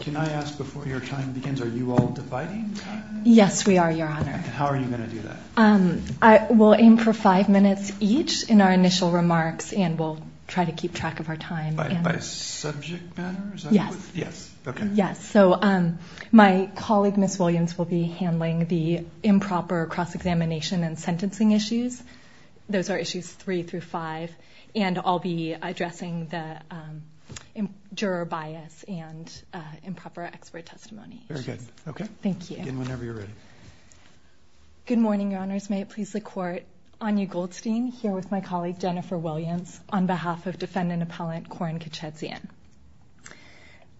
Can I ask, before your time begins, are you all dividing time? Yes, we are, Your Honor. How are you going to do that? We'll aim for five minutes each in our initial remarks, and we'll try to keep track of our time. By subject matter? Yes. Yes, okay. Yes, so my colleague, Ms. Williams, will be handling the improper cross-examination and sentencing issues. Those are issues three through five, and I'll be addressing the juror bias and improper expert testimony issues. Very good. Okay. Thank you. Begin whenever you're ready. Good morning, Your Honors. May it please the Court. Anya Goldstein here with my colleague, Jennifer Williams, on behalf of defendant-appellant Koren Kechedzian.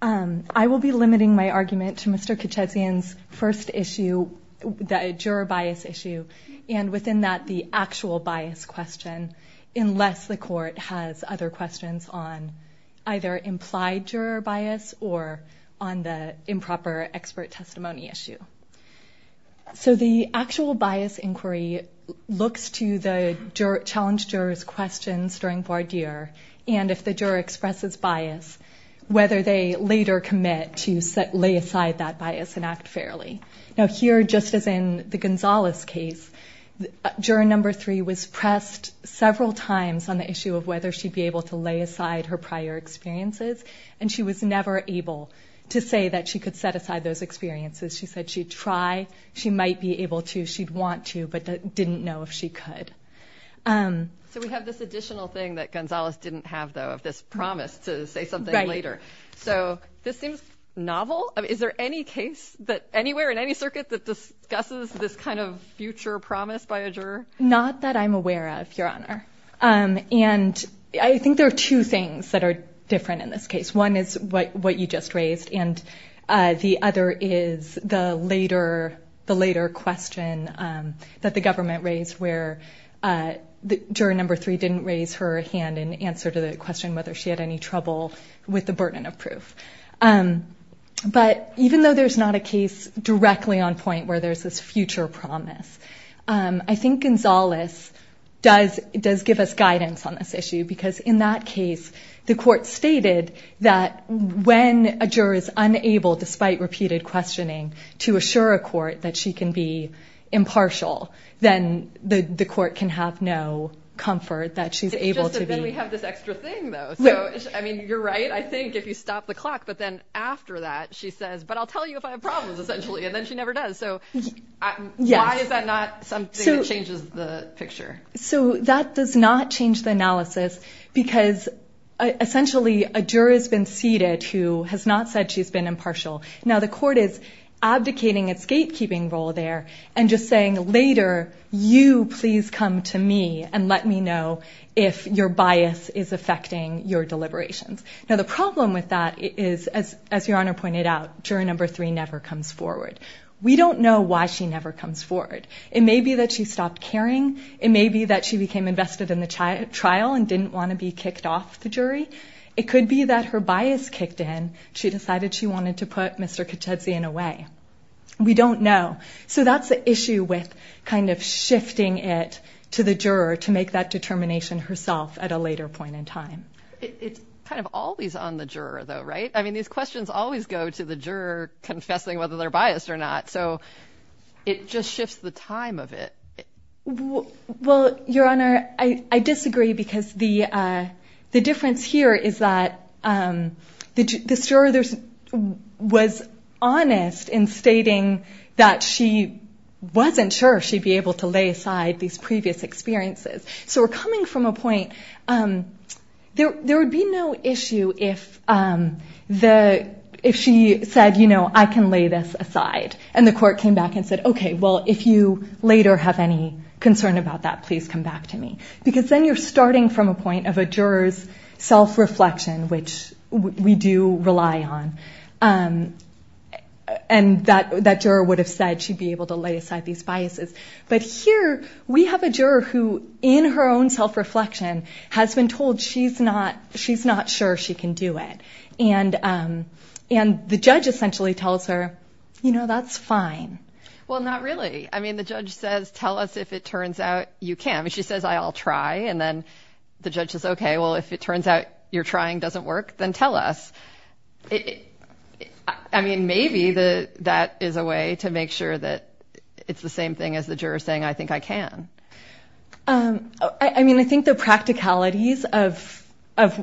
I will be limiting my argument to Mr. Kechedzian's first issue, the juror bias issue, and within that, the actual bias question, unless the Court has other questions on either implied juror bias or on the improper expert testimony issue. So the actual bias inquiry looks to the challenged juror's questions during voir dire, and if the juror expresses bias, whether they later commit to lay aside that bias and act fairly. Now, here, just as in the Gonzalez case, juror number three was pressed several times on the issue of whether she'd be able to lay aside her prior experiences, and she was never able to say that she could set aside those experiences. She said she'd try, she might be able to, she'd want to, but didn't know if she could. So we have this additional thing that Gonzalez didn't have, though, of this promise to say something later. So this seems novel. Is there any case anywhere in any circuit that discusses this kind of future promise by a juror? Not that I'm aware of, Your Honor. And I think there are two things that are different in this case. One is what you just raised, and the other is the later question that the government raised, where juror number three didn't raise her hand in answer to the question whether she had any trouble with the burden of proof. But even though there's not a case directly on point where there's this future promise, I think Gonzalez does give us guidance on this issue, because in that case the court stated that when a juror is unable, despite repeated questioning, to assure a court that she can be impartial, then the court can have no comfort that she's able to be. It's just that then we have this extra thing, though. So, I mean, you're right, I think, if you stop the clock, but then after that she says, but I'll tell you if I have problems, essentially, and then she never does. So why is that not something that changes the picture? So that does not change the analysis, because essentially a juror has been seated who has not said she's been impartial. Now, the court is abdicating its gatekeeping role there and just saying later, you please come to me and let me know if your bias is affecting your deliberations. Now, the problem with that is, as Your Honor pointed out, juror number three never comes forward. We don't know why she never comes forward. It may be that she stopped caring. It may be that she became invested in the trial and didn't want to be kicked off the jury. It could be that her bias kicked in. She decided she wanted to put Mr. Caccuzzi in a way. We don't know. So that's the issue with kind of shifting it to the juror to make that determination herself at a later point in time. It's kind of always on the juror, though, right? I mean, these questions always go to the juror confessing whether they're biased or not. So it just shifts the time of it. Well, Your Honor, I disagree, because the difference here is that this juror was honest in stating that she wasn't sure she'd be able to lay aside these previous experiences. So we're coming from a point, there would be no issue if she said, you know, I can lay this aside, and the court came back and said, okay, well, if you later have any concern about that, please come back to me. Because then you're starting from a point of a juror's self-reflection, which we do rely on. And that juror would have said she'd be able to lay aside these biases. But here we have a juror who, in her own self-reflection, has been told she's not sure she can do it. And the judge essentially tells her, you know, that's fine. Well, not really. I mean, the judge says, tell us if it turns out you can. She says, I'll try. And then the judge says, okay, well, if it turns out your trying doesn't work, then tell us. I mean, maybe that is a way to make sure that it's the same thing as the juror saying, I think I can. I mean, I think the practicalities of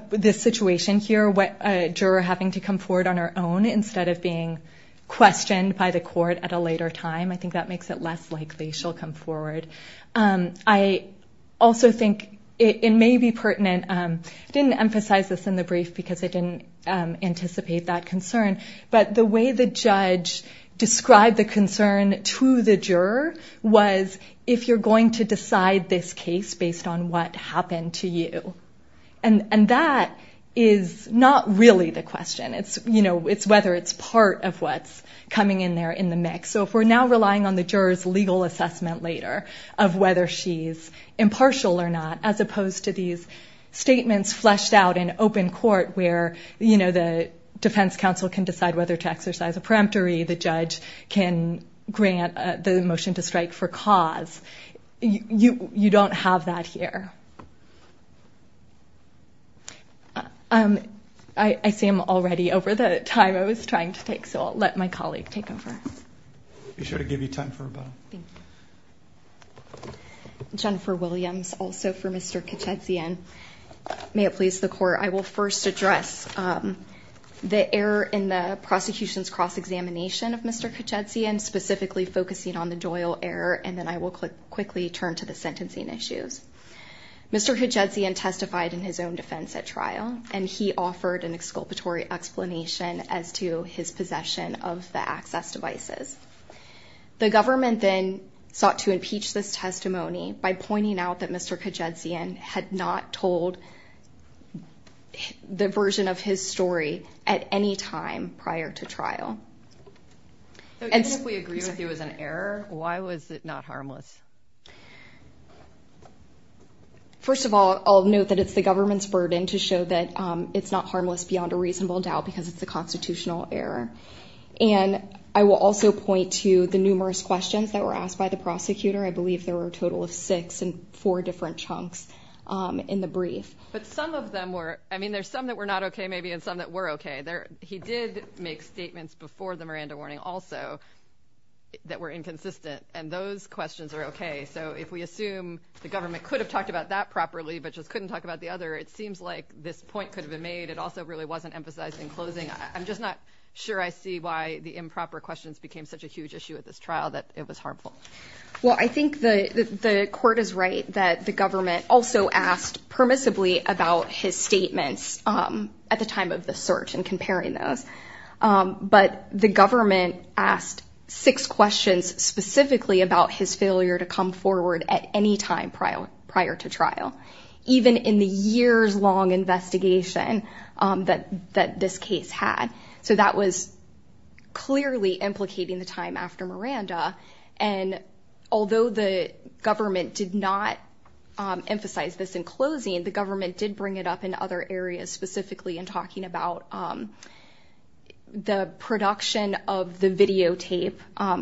this situation here, a juror having to come forward on her own instead of being questioned by the court at a later time, I think that makes it less likely she'll come forward. I also think it may be pertinent. I didn't emphasize this in the brief because I didn't anticipate that concern. But the way the judge described the concern to the juror was if you're going to decide this case based on what happened to you. And that is not really the question. It's, you know, it's whether it's part of what's coming in there in the mix. So if we're now relying on the juror's legal assessment later of whether she's impartial or not, as opposed to these statements fleshed out in open court where, you know, the defense counsel can decide whether to exercise a peremptory, the judge can grant the motion to strike for cause. You don't have that here. I see I'm already over the time I was trying to take, so I'll let my colleague take over. Be sure to give you time for a bow. Thank you. Jennifer Williams, also for Mr. Kachetzian. May it please the court, I will first address the error in the prosecution's cross-examination of Mr. Kachetzian, specifically focusing on the Doyle error, and then I will quickly turn to the sentencing issues. Mr. Kachetzian testified in his own defense at trial, and he offered an exculpatory explanation as to his possession of the access devices. The government then sought to impeach this testimony by pointing out that Mr. Kachetzian had not told the version of his story at any time prior to trial. If we agree with you as an error, why was it not harmless? First of all, I'll note that it's the government's burden to show that it's not harmless beyond a reasonable doubt because it's a constitutional error. And I will also point to the numerous questions that were asked by the prosecutor. I believe there were a total of six and four different chunks in the brief. But some of them were, I mean, there's some that were not OK, maybe, and some that were OK. He did make statements before the Miranda warning also that were inconsistent, and those questions are OK. So if we assume the government could have talked about that properly but just couldn't talk about the other, it seems like this point could have been made. It also really wasn't emphasized in closing. I'm just not sure I see why the improper questions became such a huge issue at this trial that it was harmful. Well, I think the court is right that the government also asked permissibly about his statements at the time of the search and comparing those. But the government asked six questions specifically about his failure to come forward at any time prior to trial, even in the years-long investigation that this case had. So that was clearly implicating the time after Miranda. And although the government did not emphasize this in closing, the government did bring it up in other areas, specifically in talking about the production of the videotape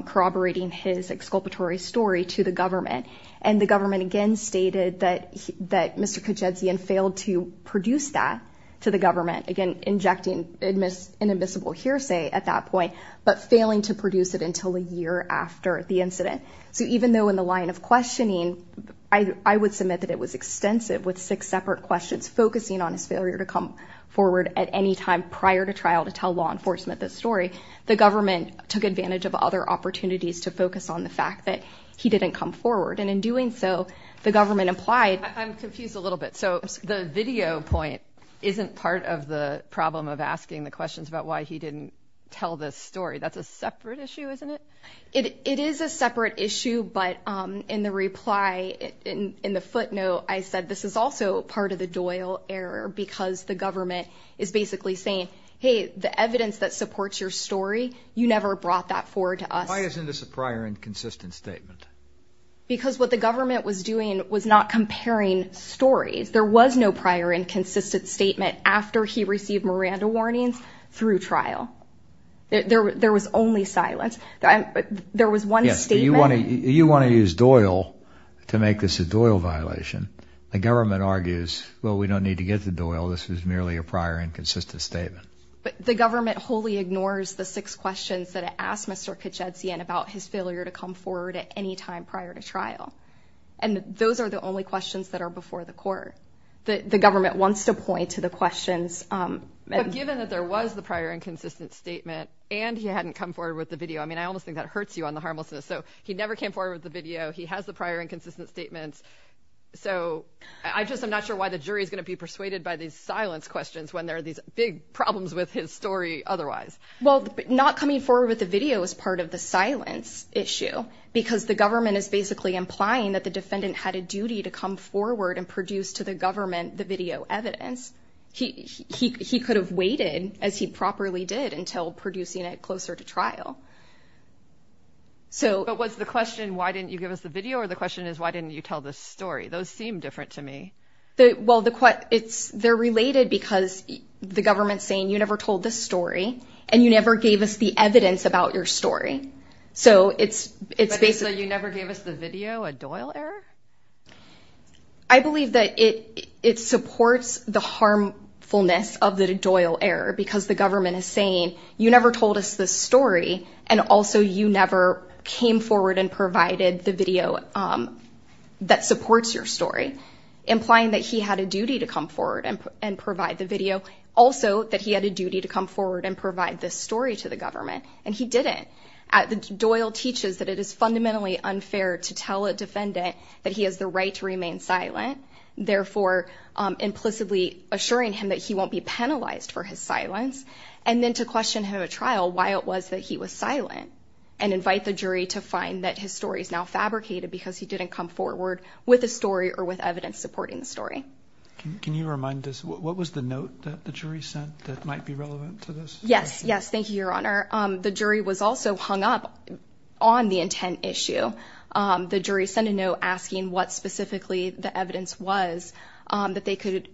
corroborating his exculpatory story to the government. And the government, again, stated that Mr. Kojedsian failed to produce that to the government, again, injecting an admissible hearsay at that point, but failing to produce it until a year after the incident. So even though in the line of questioning, I would submit that it was extensive, with six separate questions focusing on his failure to come forward at any time prior to trial to tell law enforcement this story, the government took advantage of other opportunities to focus on the fact that he didn't come forward. And in doing so, the government implied — I'm confused a little bit. So the video point isn't part of the problem of asking the questions about why he didn't tell this story. That's a separate issue, isn't it? It is a separate issue. But in the reply, in the footnote, I said this is also part of the Doyle error because the government is basically saying, hey, the evidence that supports your story, you never brought that forward to us. Why isn't this a prior and consistent statement? Because what the government was doing was not comparing stories. There was no prior and consistent statement after he received Miranda warnings through trial. There was only silence. There was one statement — Yes, but you want to use Doyle to make this a Doyle violation. The government argues, well, we don't need to get the Doyle. This is merely a prior and consistent statement. But the government wholly ignores the six questions that it asked Mr. Kuczynski about his failure to come forward at any time prior to trial. And those are the only questions that are before the court. The government wants to point to the questions. But given that there was the prior and consistent statement and he hadn't come forward with the video, I mean, I almost think that hurts you on the harmlessness. So he never came forward with the video. He has the prior and consistent statements. So I just am not sure why the jury is going to be persuaded by these silence questions when there are these big problems with his story otherwise. Well, not coming forward with the video is part of the silence issue because the government is basically implying that the defendant had a duty to come forward and produce to the government the video evidence. He could have waited, as he properly did, until producing it closer to trial. But was the question, why didn't you give us the video? Or the question is, why didn't you tell the story? Those seem different to me. Well, they're related because the government's saying, you never told the story and you never gave us the evidence about your story. So it's basically. So you never gave us the video, a Doyle error? I believe that it supports the harmfulness of the Doyle error because the government is saying you never told us the story. And also, you never came forward and provided the video that supports your story, implying that he had a duty to come forward and provide the video. Also, that he had a duty to come forward and provide this story to the government. And he didn't. Doyle teaches that it is fundamentally unfair to tell a defendant that he has the right to remain silent, therefore implicitly assuring him that he won't be penalized for his silence. And then to question him at trial why it was that he was silent and invite the jury to find that his story is now fabricated because he didn't come forward with a story or with evidence supporting the story. Can you remind us what was the note that the jury sent that might be relevant to this? Yes. Yes. Thank you, Your Honor. The jury was also hung up on the intent issue. The jury sent a note asking what specifically the evidence was that they could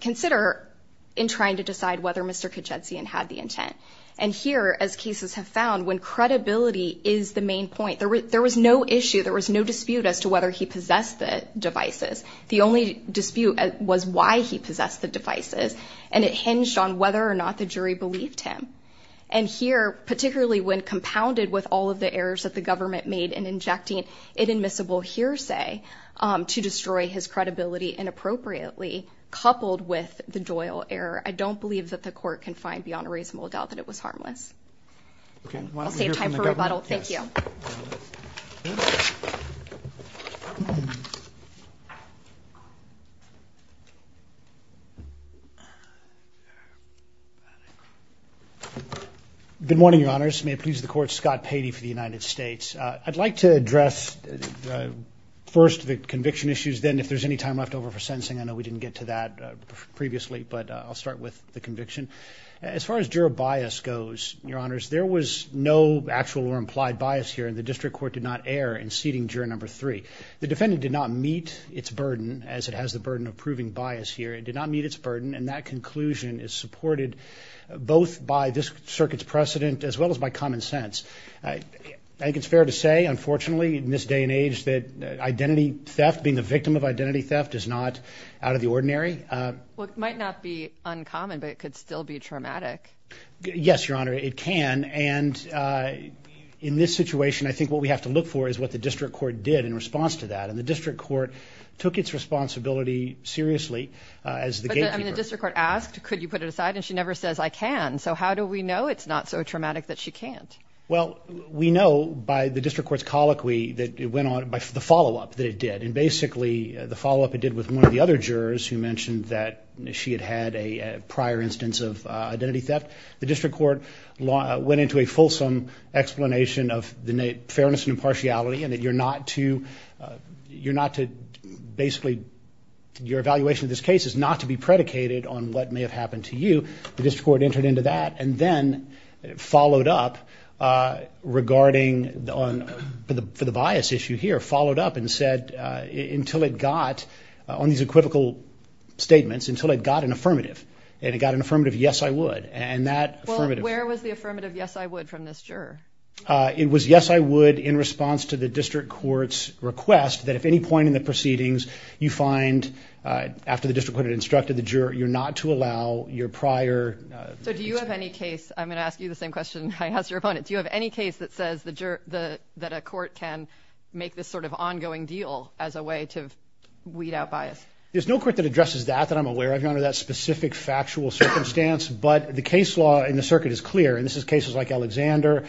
consider in trying to decide whether Mr. Kajetsian had the intent. And here, as cases have found, when credibility is the main point, there was no issue. There was no dispute as to whether he possessed the devices. The only dispute was why he possessed the devices. And it hinged on whether or not the jury believed him. And here, particularly when compounded with all of the errors that the government made in injecting an admissible hearsay to destroy his credibility inappropriately, coupled with the Doyle error, I don't believe that the court can find beyond a reasonable doubt that it was harmless. I'll save time for rebuttal. Thank you. Thank you. Good morning, Your Honors. May it please the Court, Scott Patey for the United States. I'd like to address first the conviction issues, then if there's any time left over for sentencing. I know we didn't get to that previously, but I'll start with the conviction. As far as juror bias goes, Your Honors, there was no actual or implied bias here, and the district court did not err in seating juror number three. The defendant did not meet its burden, as it has the burden of proving bias here. It did not meet its burden, and that conclusion is supported both by this circuit's precedent as well as by common sense. I think it's fair to say, unfortunately, in this day and age, that identity theft, being a victim of identity theft, is not out of the ordinary. Well, it might not be uncommon, but it could still be traumatic. Yes, Your Honor, it can, and in this situation, I think what we have to look for is what the district court did in response to that, and the district court took its responsibility seriously as the gatekeeper. But the district court asked, could you put it aside, and she never says, I can. So how do we know it's not so traumatic that she can't? Well, we know by the district court's colloquy that it went on, by the follow-up that it did, and basically the follow-up it did with one of the other jurors who mentioned that she had had a prior instance of identity theft. The district court went into a fulsome explanation of the fairness and impartiality, and that you're not to basically, your evaluation of this case is not to be predicated on what may have happened to you. The district court entered into that and then followed up regarding, for the bias issue here, followed up and said until it got, on these equivocal statements, until it got an affirmative, and it got an affirmative yes, I would, and that affirmative. Well, where was the affirmative yes, I would from this juror? It was yes, I would in response to the district court's request that at any point in the proceedings, you find, after the district court had instructed the juror, you're not to allow your prior. So do you have any case, I'm going to ask you the same question I asked your opponent, do you have any case that says that a court can make this sort of ongoing deal as a way to weed out bias? There's no court that addresses that that I'm aware of, Your Honor, that specific factual circumstance, but the case law in the circuit is clear, and this is cases like Alexander,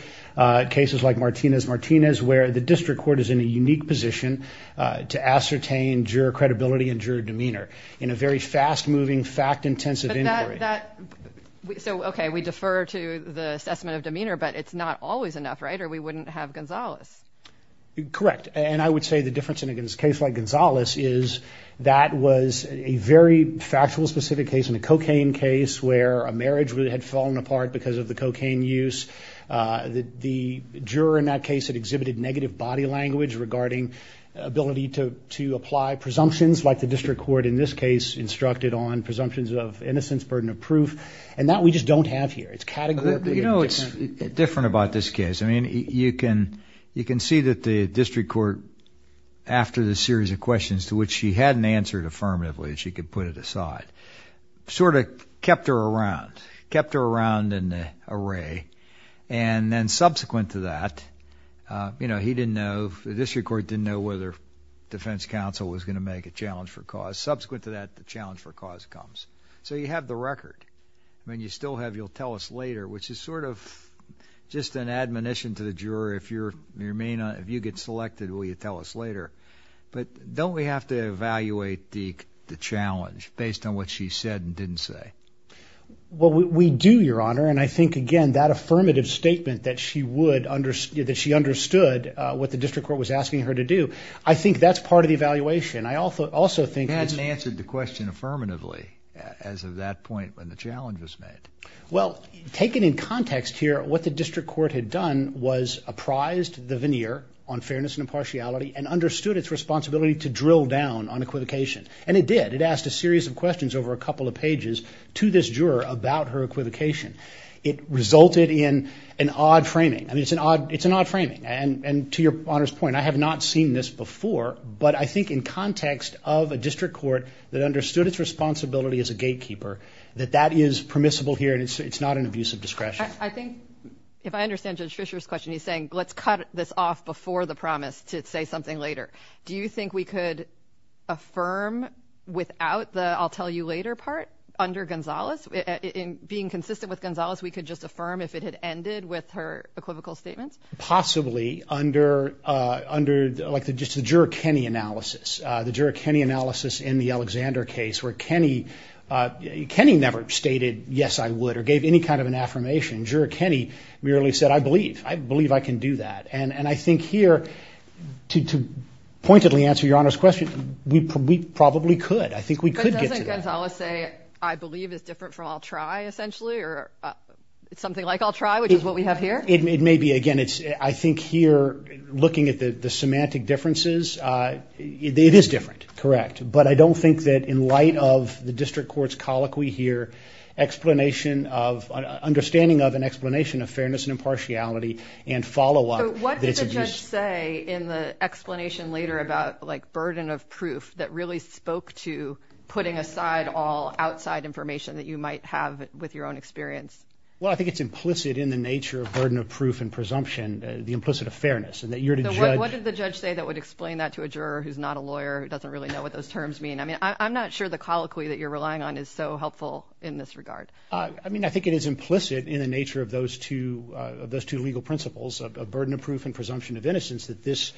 cases like Martinez-Martinez, where the district court is in a unique position to ascertain juror credibility and juror demeanor in a very fast-moving, fact-intensive inquiry. So, okay, we defer to the assessment of demeanor, but it's not always enough, right? Or we wouldn't have Gonzales. Correct, and I would say the difference in a case like Gonzales is that was a very factual, specific case in a cocaine case where a marriage really had fallen apart because of the cocaine use. The juror in that case had exhibited negative body language regarding ability to apply presumptions, like the district court in this case instructed on presumptions of innocence, burden of proof, and that we just don't have here. It's categorically different. You know what's different about this case? I mean, you can see that the district court, after the series of questions to which she hadn't answered affirmatively, and she could put it aside, sort of kept her around, kept her around in an array, and then subsequent to that, you know, he didn't know, the district court didn't know whether defense counsel was going to make a challenge for cause. Subsequent to that, the challenge for cause comes. So you have the record. I mean, you still have you'll tell us later, which is sort of just an admonition to the juror. If you remain, if you get selected, will you tell us later? But don't we have to evaluate the challenge based on what she said and didn't say? Well, we do, Your Honor, and I think, again, that affirmative statement that she would, that she understood what the district court was asking her to do, I think that's part of the evaluation. I also think it's. She hadn't answered the question affirmatively as of that point when the challenge was made. Well, taken in context here, what the district court had done was apprised the veneer on fairness and impartiality and understood its responsibility to drill down on equivocation. And it did. It asked a series of questions over a couple of pages to this juror about her equivocation. It resulted in an odd framing. I mean, it's an odd framing. And to Your Honor's point, I have not seen this before, but I think in context of a district court that understood its responsibility as a gatekeeper, that that is permissible here and it's not an abuse of discretion. I think if I understand Judge Fischer's question, he's saying, let's cut this off before the promise to say something later. Do you think we could affirm without the I'll tell you later part under Gonzales? In being consistent with Gonzales, we could just affirm if it had ended with her equivocal statements? Possibly under, like, just the juror Kenney analysis. The juror Kenney analysis in the Alexander case where Kenney never stated, yes, I would, or gave any kind of an affirmation. Juror Kenney merely said, I believe. I believe I can do that. And I think here, to pointedly answer Your Honor's question, we probably could. I think we could get to that. But doesn't Gonzales say, I believe is different from I'll try, essentially, or something like I'll try, which is what we have here? It may be. Again, I think here, looking at the semantic differences, it is different. Correct. But I don't think that in light of the district court's colloquy here, explanation of, understanding of an explanation of fairness and impartiality and follow-up. What did the judge say in the explanation later about, like, burden of proof that really spoke to putting aside all outside information that you might have with your own experience? Well, I think it's implicit in the nature of burden of proof and presumption, the implicit of fairness. What did the judge say that would explain that to a juror who's not a lawyer who doesn't really know what those terms mean? I mean, I'm not sure the colloquy that you're relying on is so helpful in this regard. I mean, I think it is implicit in the nature of those two legal principles of burden of proof and presumption of innocence that this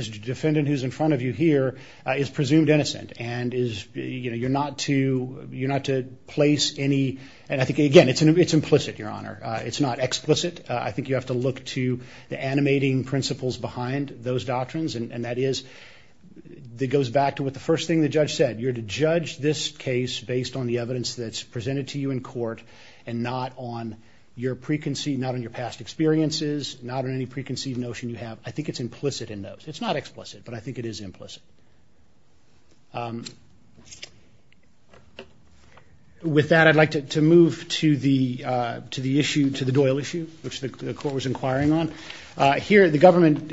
defendant who's in front of you here is presumed innocent and is, you know, you're not to place any. And I think, again, it's implicit, Your Honor. It's not explicit. I think you have to look to the animating principles behind those doctrines, and that is it goes back to what the first thing the judge said. You're to judge this case based on the evidence that's presented to you in court and not on your preconceived, not on your past experiences, not on any preconceived notion you have. I think it's implicit in those. It's not explicit, but I think it is implicit. With that, I'd like to move to the issue, to the Doyle issue, which the court was inquiring on. Here, the government,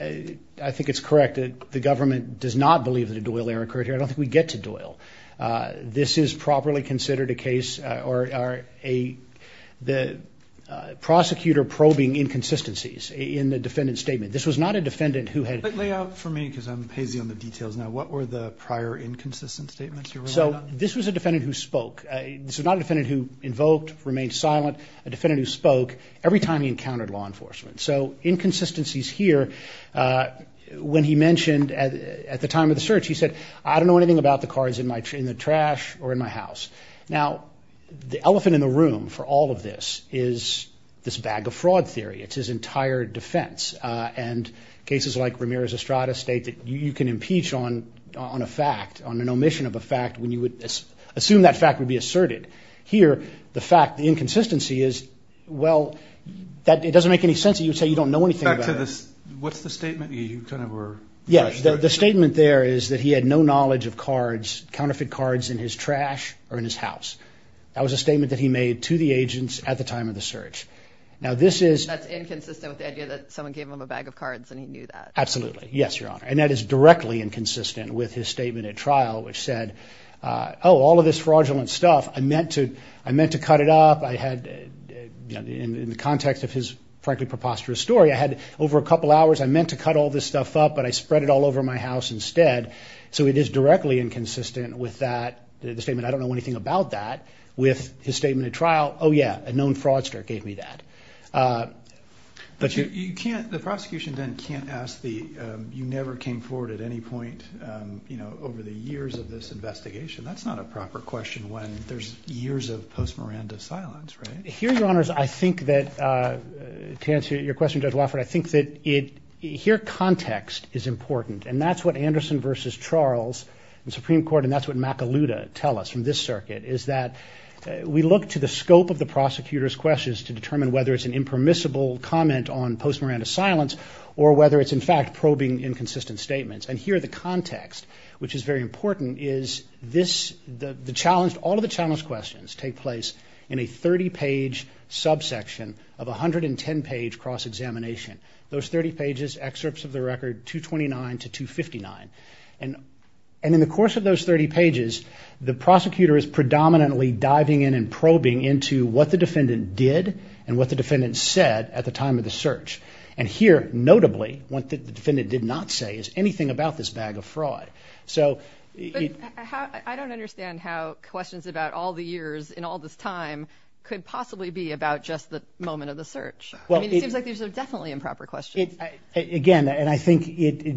I think it's correct, the government does not believe that a Doyle error occurred here. I don't think we get to Doyle. This is properly considered a case or a prosecutor probing inconsistencies in the defendant's statement. This was not a defendant who had – Lay out for me because I'm hazy on the details now. What were the prior inconsistent statements you're relying on? So this was a defendant who spoke. This was not a defendant who invoked, remained silent. This was not a defendant who spoke every time he encountered law enforcement. So inconsistencies here, when he mentioned at the time of the search, he said, I don't know anything about the cards in the trash or in my house. Now, the elephant in the room for all of this is this bag of fraud theory. It's his entire defense. And cases like Ramirez-Estrada state that you can impeach on a fact, on an omission of a fact, when you would assume that fact would be asserted. Here, the fact, the inconsistency is, well, it doesn't make any sense that you would say you don't know anything about it. Back to this, what's the statement you kind of were – Yes, the statement there is that he had no knowledge of cards, counterfeit cards in his trash or in his house. That was a statement that he made to the agents at the time of the search. Now, this is – That's inconsistent with the idea that someone gave him a bag of cards and he knew that. Absolutely. Yes, Your Honor. And that is directly inconsistent with his statement at trial, which said, oh, all of this fraudulent stuff, I meant to cut it up. I had – in the context of his, frankly, preposterous story, I had over a couple hours, I meant to cut all this stuff up, but I spread it all over my house instead. So it is directly inconsistent with that – the statement, I don't know anything about that. With his statement at trial, oh, yeah, a known fraudster gave me that. But you can't – the prosecution then can't ask the – over the years of this investigation. That's not a proper question when there's years of post-Miranda silence, right? Here, Your Honors, I think that – to answer your question, Judge Wofford, I think that it – here, context is important, and that's what Anderson v. Charles in Supreme Court and that's what McAloota tell us from this circuit, is that we look to the scope of the prosecutor's questions to determine whether it's an impermissible comment on post-Miranda silence or whether it's, in fact, probing inconsistent statements. And here, the context, which is very important, is this – the challenged – all of the challenged questions take place in a 30-page subsection of 110-page cross-examination. Those 30 pages, excerpts of the record, 229 to 259. And in the course of those 30 pages, the prosecutor is predominantly diving in and probing into what the defendant did and what the defendant said at the time of the search. And here, notably, what the defendant did not say is anything about this bag of fraud. So – But how – I don't understand how questions about all the years in all this time could possibly be about just the moment of the search. I mean, it seems like these are definitely improper questions. Again, and I think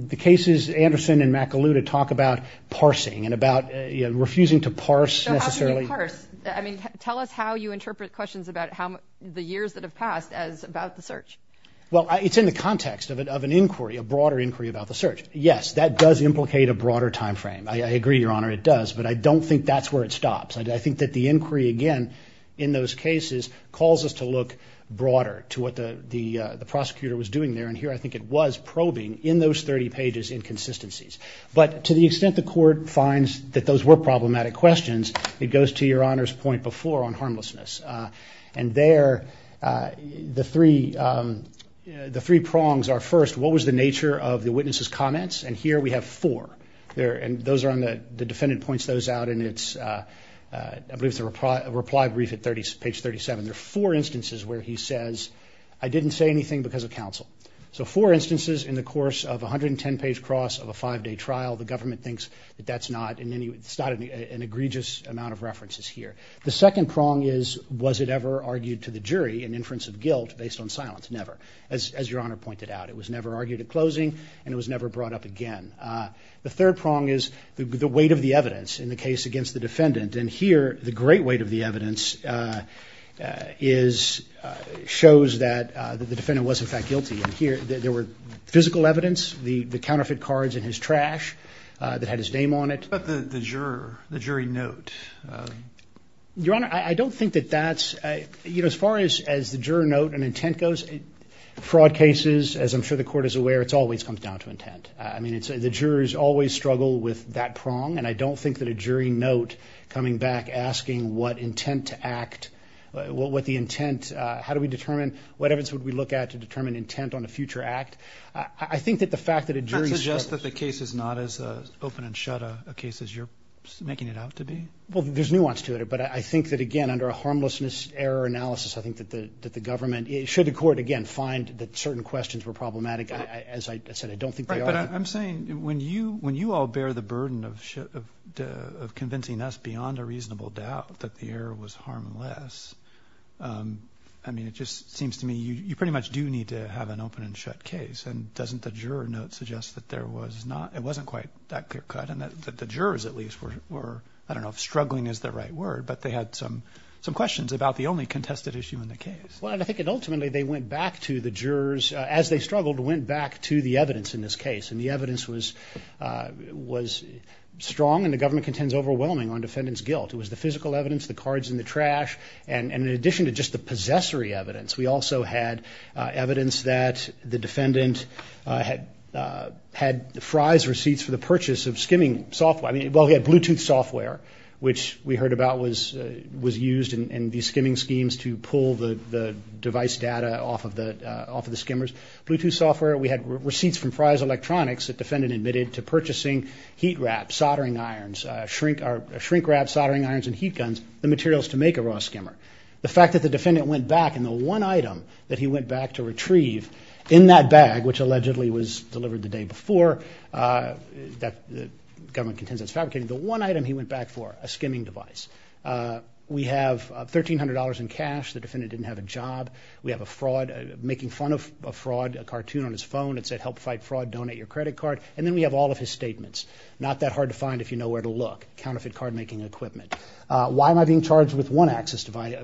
the cases Anderson and McAloota talk about parsing and about refusing to parse necessarily – So how can you parse? I mean, tell us how you interpret questions about how – the years that have passed as about the search. Well, it's in the context of an inquiry, a broader inquiry about the search. Yes, that does implicate a broader timeframe. I agree, Your Honor, it does. But I don't think that's where it stops. I think that the inquiry, again, in those cases, calls us to look broader to what the prosecutor was doing there. And here, I think it was probing in those 30 pages inconsistencies. But to the extent the Court finds that those were problematic questions, it goes to Your Honor's point before on harmlessness. And there, the three prongs are, first, what was the nature of the witness's comments? And here we have four. And those are on the – the defendant points those out, and it's – I believe it's a reply brief at page 37. There are four instances where he says, I didn't say anything because of counsel. So four instances in the course of a 110-page cross of a five-day trial. The government thinks that that's not in any – it's not an egregious amount of references here. The second prong is, was it ever argued to the jury in inference of guilt based on silence? Never, as Your Honor pointed out. It was never argued at closing, and it was never brought up again. The third prong is the weight of the evidence in the case against the defendant. And here, the great weight of the evidence is – shows that the defendant was, in fact, guilty. And here, there were physical evidence, the counterfeit cards in his trash that had his name on it. What about the juror, the jury note? Your Honor, I don't think that that's – you know, as far as the juror note and intent goes, fraud cases, as I'm sure the Court is aware, it always comes down to intent. I mean, the jurors always struggle with that prong, and I don't think that a jury note coming back asking what intent to act – what the intent – how do we determine – what evidence would we look at to determine intent on a future act? I think that the fact that a jury – Does it suggest that the case is not as open and shut a case as you're making it out to be? Well, there's nuance to it. But I think that, again, under a harmlessness error analysis, I think that the government – should the Court, again, find that certain questions were problematic, as I said, I don't think they are. Right, but I'm saying when you all bear the burden of convincing us beyond a reasonable doubt that the error was harmless, I mean, it just seems to me you pretty much do need to have an open and shut case. And doesn't the juror note suggest that there was not – it wasn't quite that clear-cut and that the jurors at least were – I don't know if struggling is the right word, but they had some questions about the only contested issue in the case. Well, and I think that ultimately they went back to the jurors – as they struggled, went back to the evidence in this case. And the evidence was strong, and the government contends, overwhelming on defendant's guilt. It was the physical evidence, the cards in the trash, and in addition to just the possessory evidence, we also had evidence that the defendant had Fry's receipts for the purchase of skimming software. I mean, well, he had Bluetooth software, which we heard about was used in these skimming schemes to pull the device data off of the skimmers. Bluetooth software, we had receipts from Fry's Electronics that defendant admitted to purchasing heat wrap, soldering irons, shrink wrap, soldering irons and heat guns, the materials to make a raw skimmer. The fact that the defendant went back, and the one item that he went back to retrieve in that bag, which allegedly was delivered the day before, that the government contends that's fabricated, the one item he went back for, a skimming device. We have $1,300 in cash. The defendant didn't have a job. We have a fraud – making fun of a fraud cartoon on his phone. It said, help fight fraud, donate your credit card. And then we have all of his statements. Not that hard to find if you know where to look. Counterfeit card-making equipment. Why am I being charged with one access device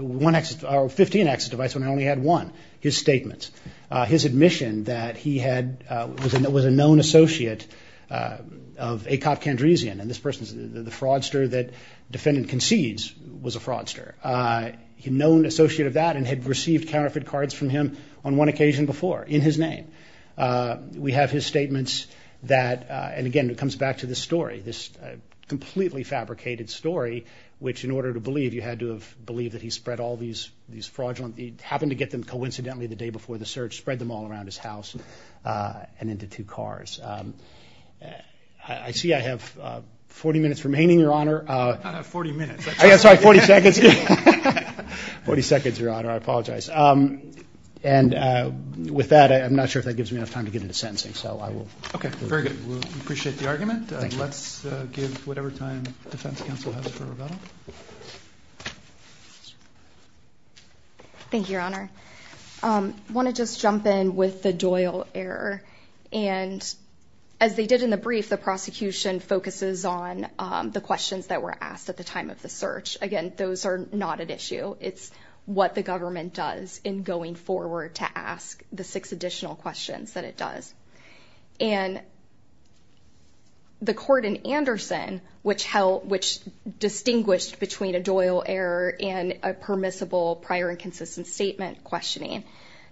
– or 15 access devices when I only had one? His statements. His admission that he was a known associate of A. Copp Candresian, and this person's the fraudster that defendant concedes was a fraudster. He's a known associate of that and had received counterfeit cards from him on one occasion before in his name. We have his statements that – and, again, it comes back to this story, this completely fabricated story which, in order to believe, you had to have believed that he spread all these fraudulent – happened to get them coincidentally the day before the search, spread them all around his house and into two cars. I see I have 40 minutes remaining, Your Honor. Not 40 minutes. I'm sorry, 40 seconds. 40 seconds, Your Honor. I apologize. And with that, I'm not sure if that gives me enough time to get into sentencing, so I will. Okay, very good. We appreciate the argument. Thank you. Let's give whatever time the defense counsel has for Ravello. Thank you, Your Honor. I want to just jump in with the Doyle error. And as they did in the brief, the prosecution focuses on the questions that were asked at the time of the search. Again, those are not at issue. It's what the government does in going forward to ask the six additional questions that it does. And the court in Anderson, which distinguished between a Doyle error and a permissible prior and consistent statement questioning,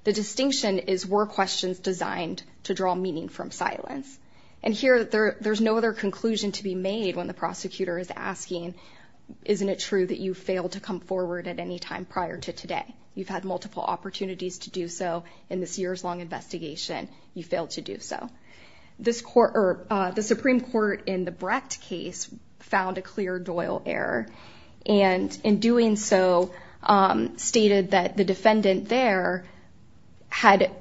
the distinction is were questions designed to draw meaning from silence. And here, there's no other conclusion to be made when the prosecutor is asking, isn't it true that you failed to come forward at any time prior to today? You've had multiple opportunities to do so in this years-long investigation. You failed to do so. The Supreme Court in the Brecht case found a clear Doyle error, and in doing so stated that the defendant there had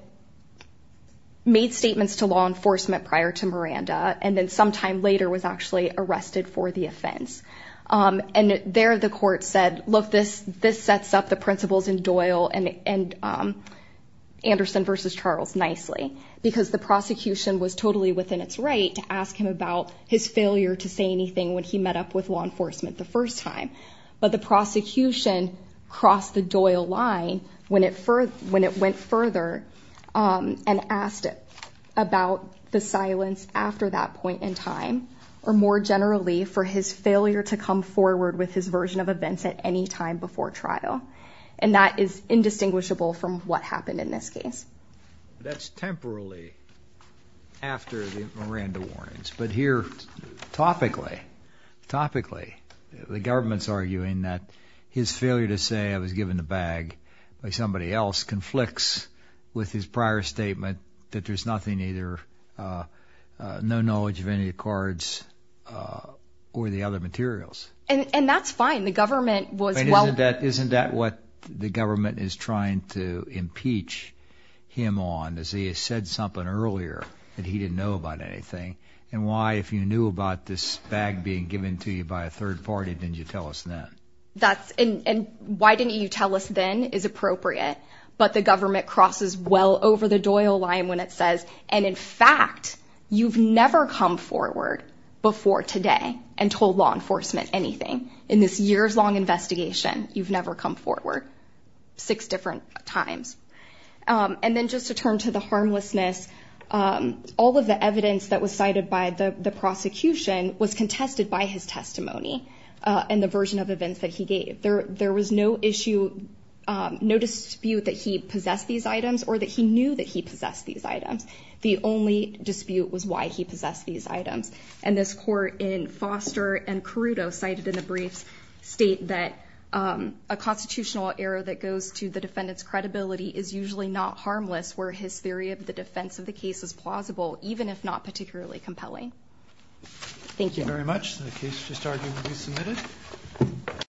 made statements to law enforcement prior to Miranda and then sometime later was actually arrested for the offense. And there the court said, look, this sets up the principles in Doyle and Anderson v. Charles nicely because the prosecution was totally within its right to ask him about his failure to say anything when he met up with law enforcement the first time. But the prosecution crossed the Doyle line when it went further and asked about the silence after that point in time or more generally for his failure to come forward with his version of events at any time before trial. And that is indistinguishable from what happened in this case. That's temporarily after the Miranda warnings. But here, topically, topically, the government's arguing that his failure to say I was given the bag by somebody else conflicts with his prior statement that there's nothing either, no knowledge of any of the cards or the other materials. And that's fine. The government was well- Isn't that what the government is trying to impeach him on, is he has said something earlier that he didn't know about anything? And why, if you knew about this bag being given to you by a third party, didn't you tell us then? And why didn't you tell us then is appropriate. But the government crosses well over the Doyle line when it says, and in fact, you've never come forward before today and told law enforcement anything in this years long investigation. You've never come forward six different times. And then just to turn to the harmlessness, all of the evidence that was cited by the prosecution was contested by his testimony and the version of events that he gave. There was no issue, no dispute that he possessed these items or that he knew that he possessed these items. The only dispute was why he possessed these items. And this court in Foster and Caruto cited in the briefs state that a constitutional error that goes to the defendant's credibility is usually not harmless, where his theory of the defense of the case is plausible, even if not particularly compelling. Thank you very much. The case is submitted.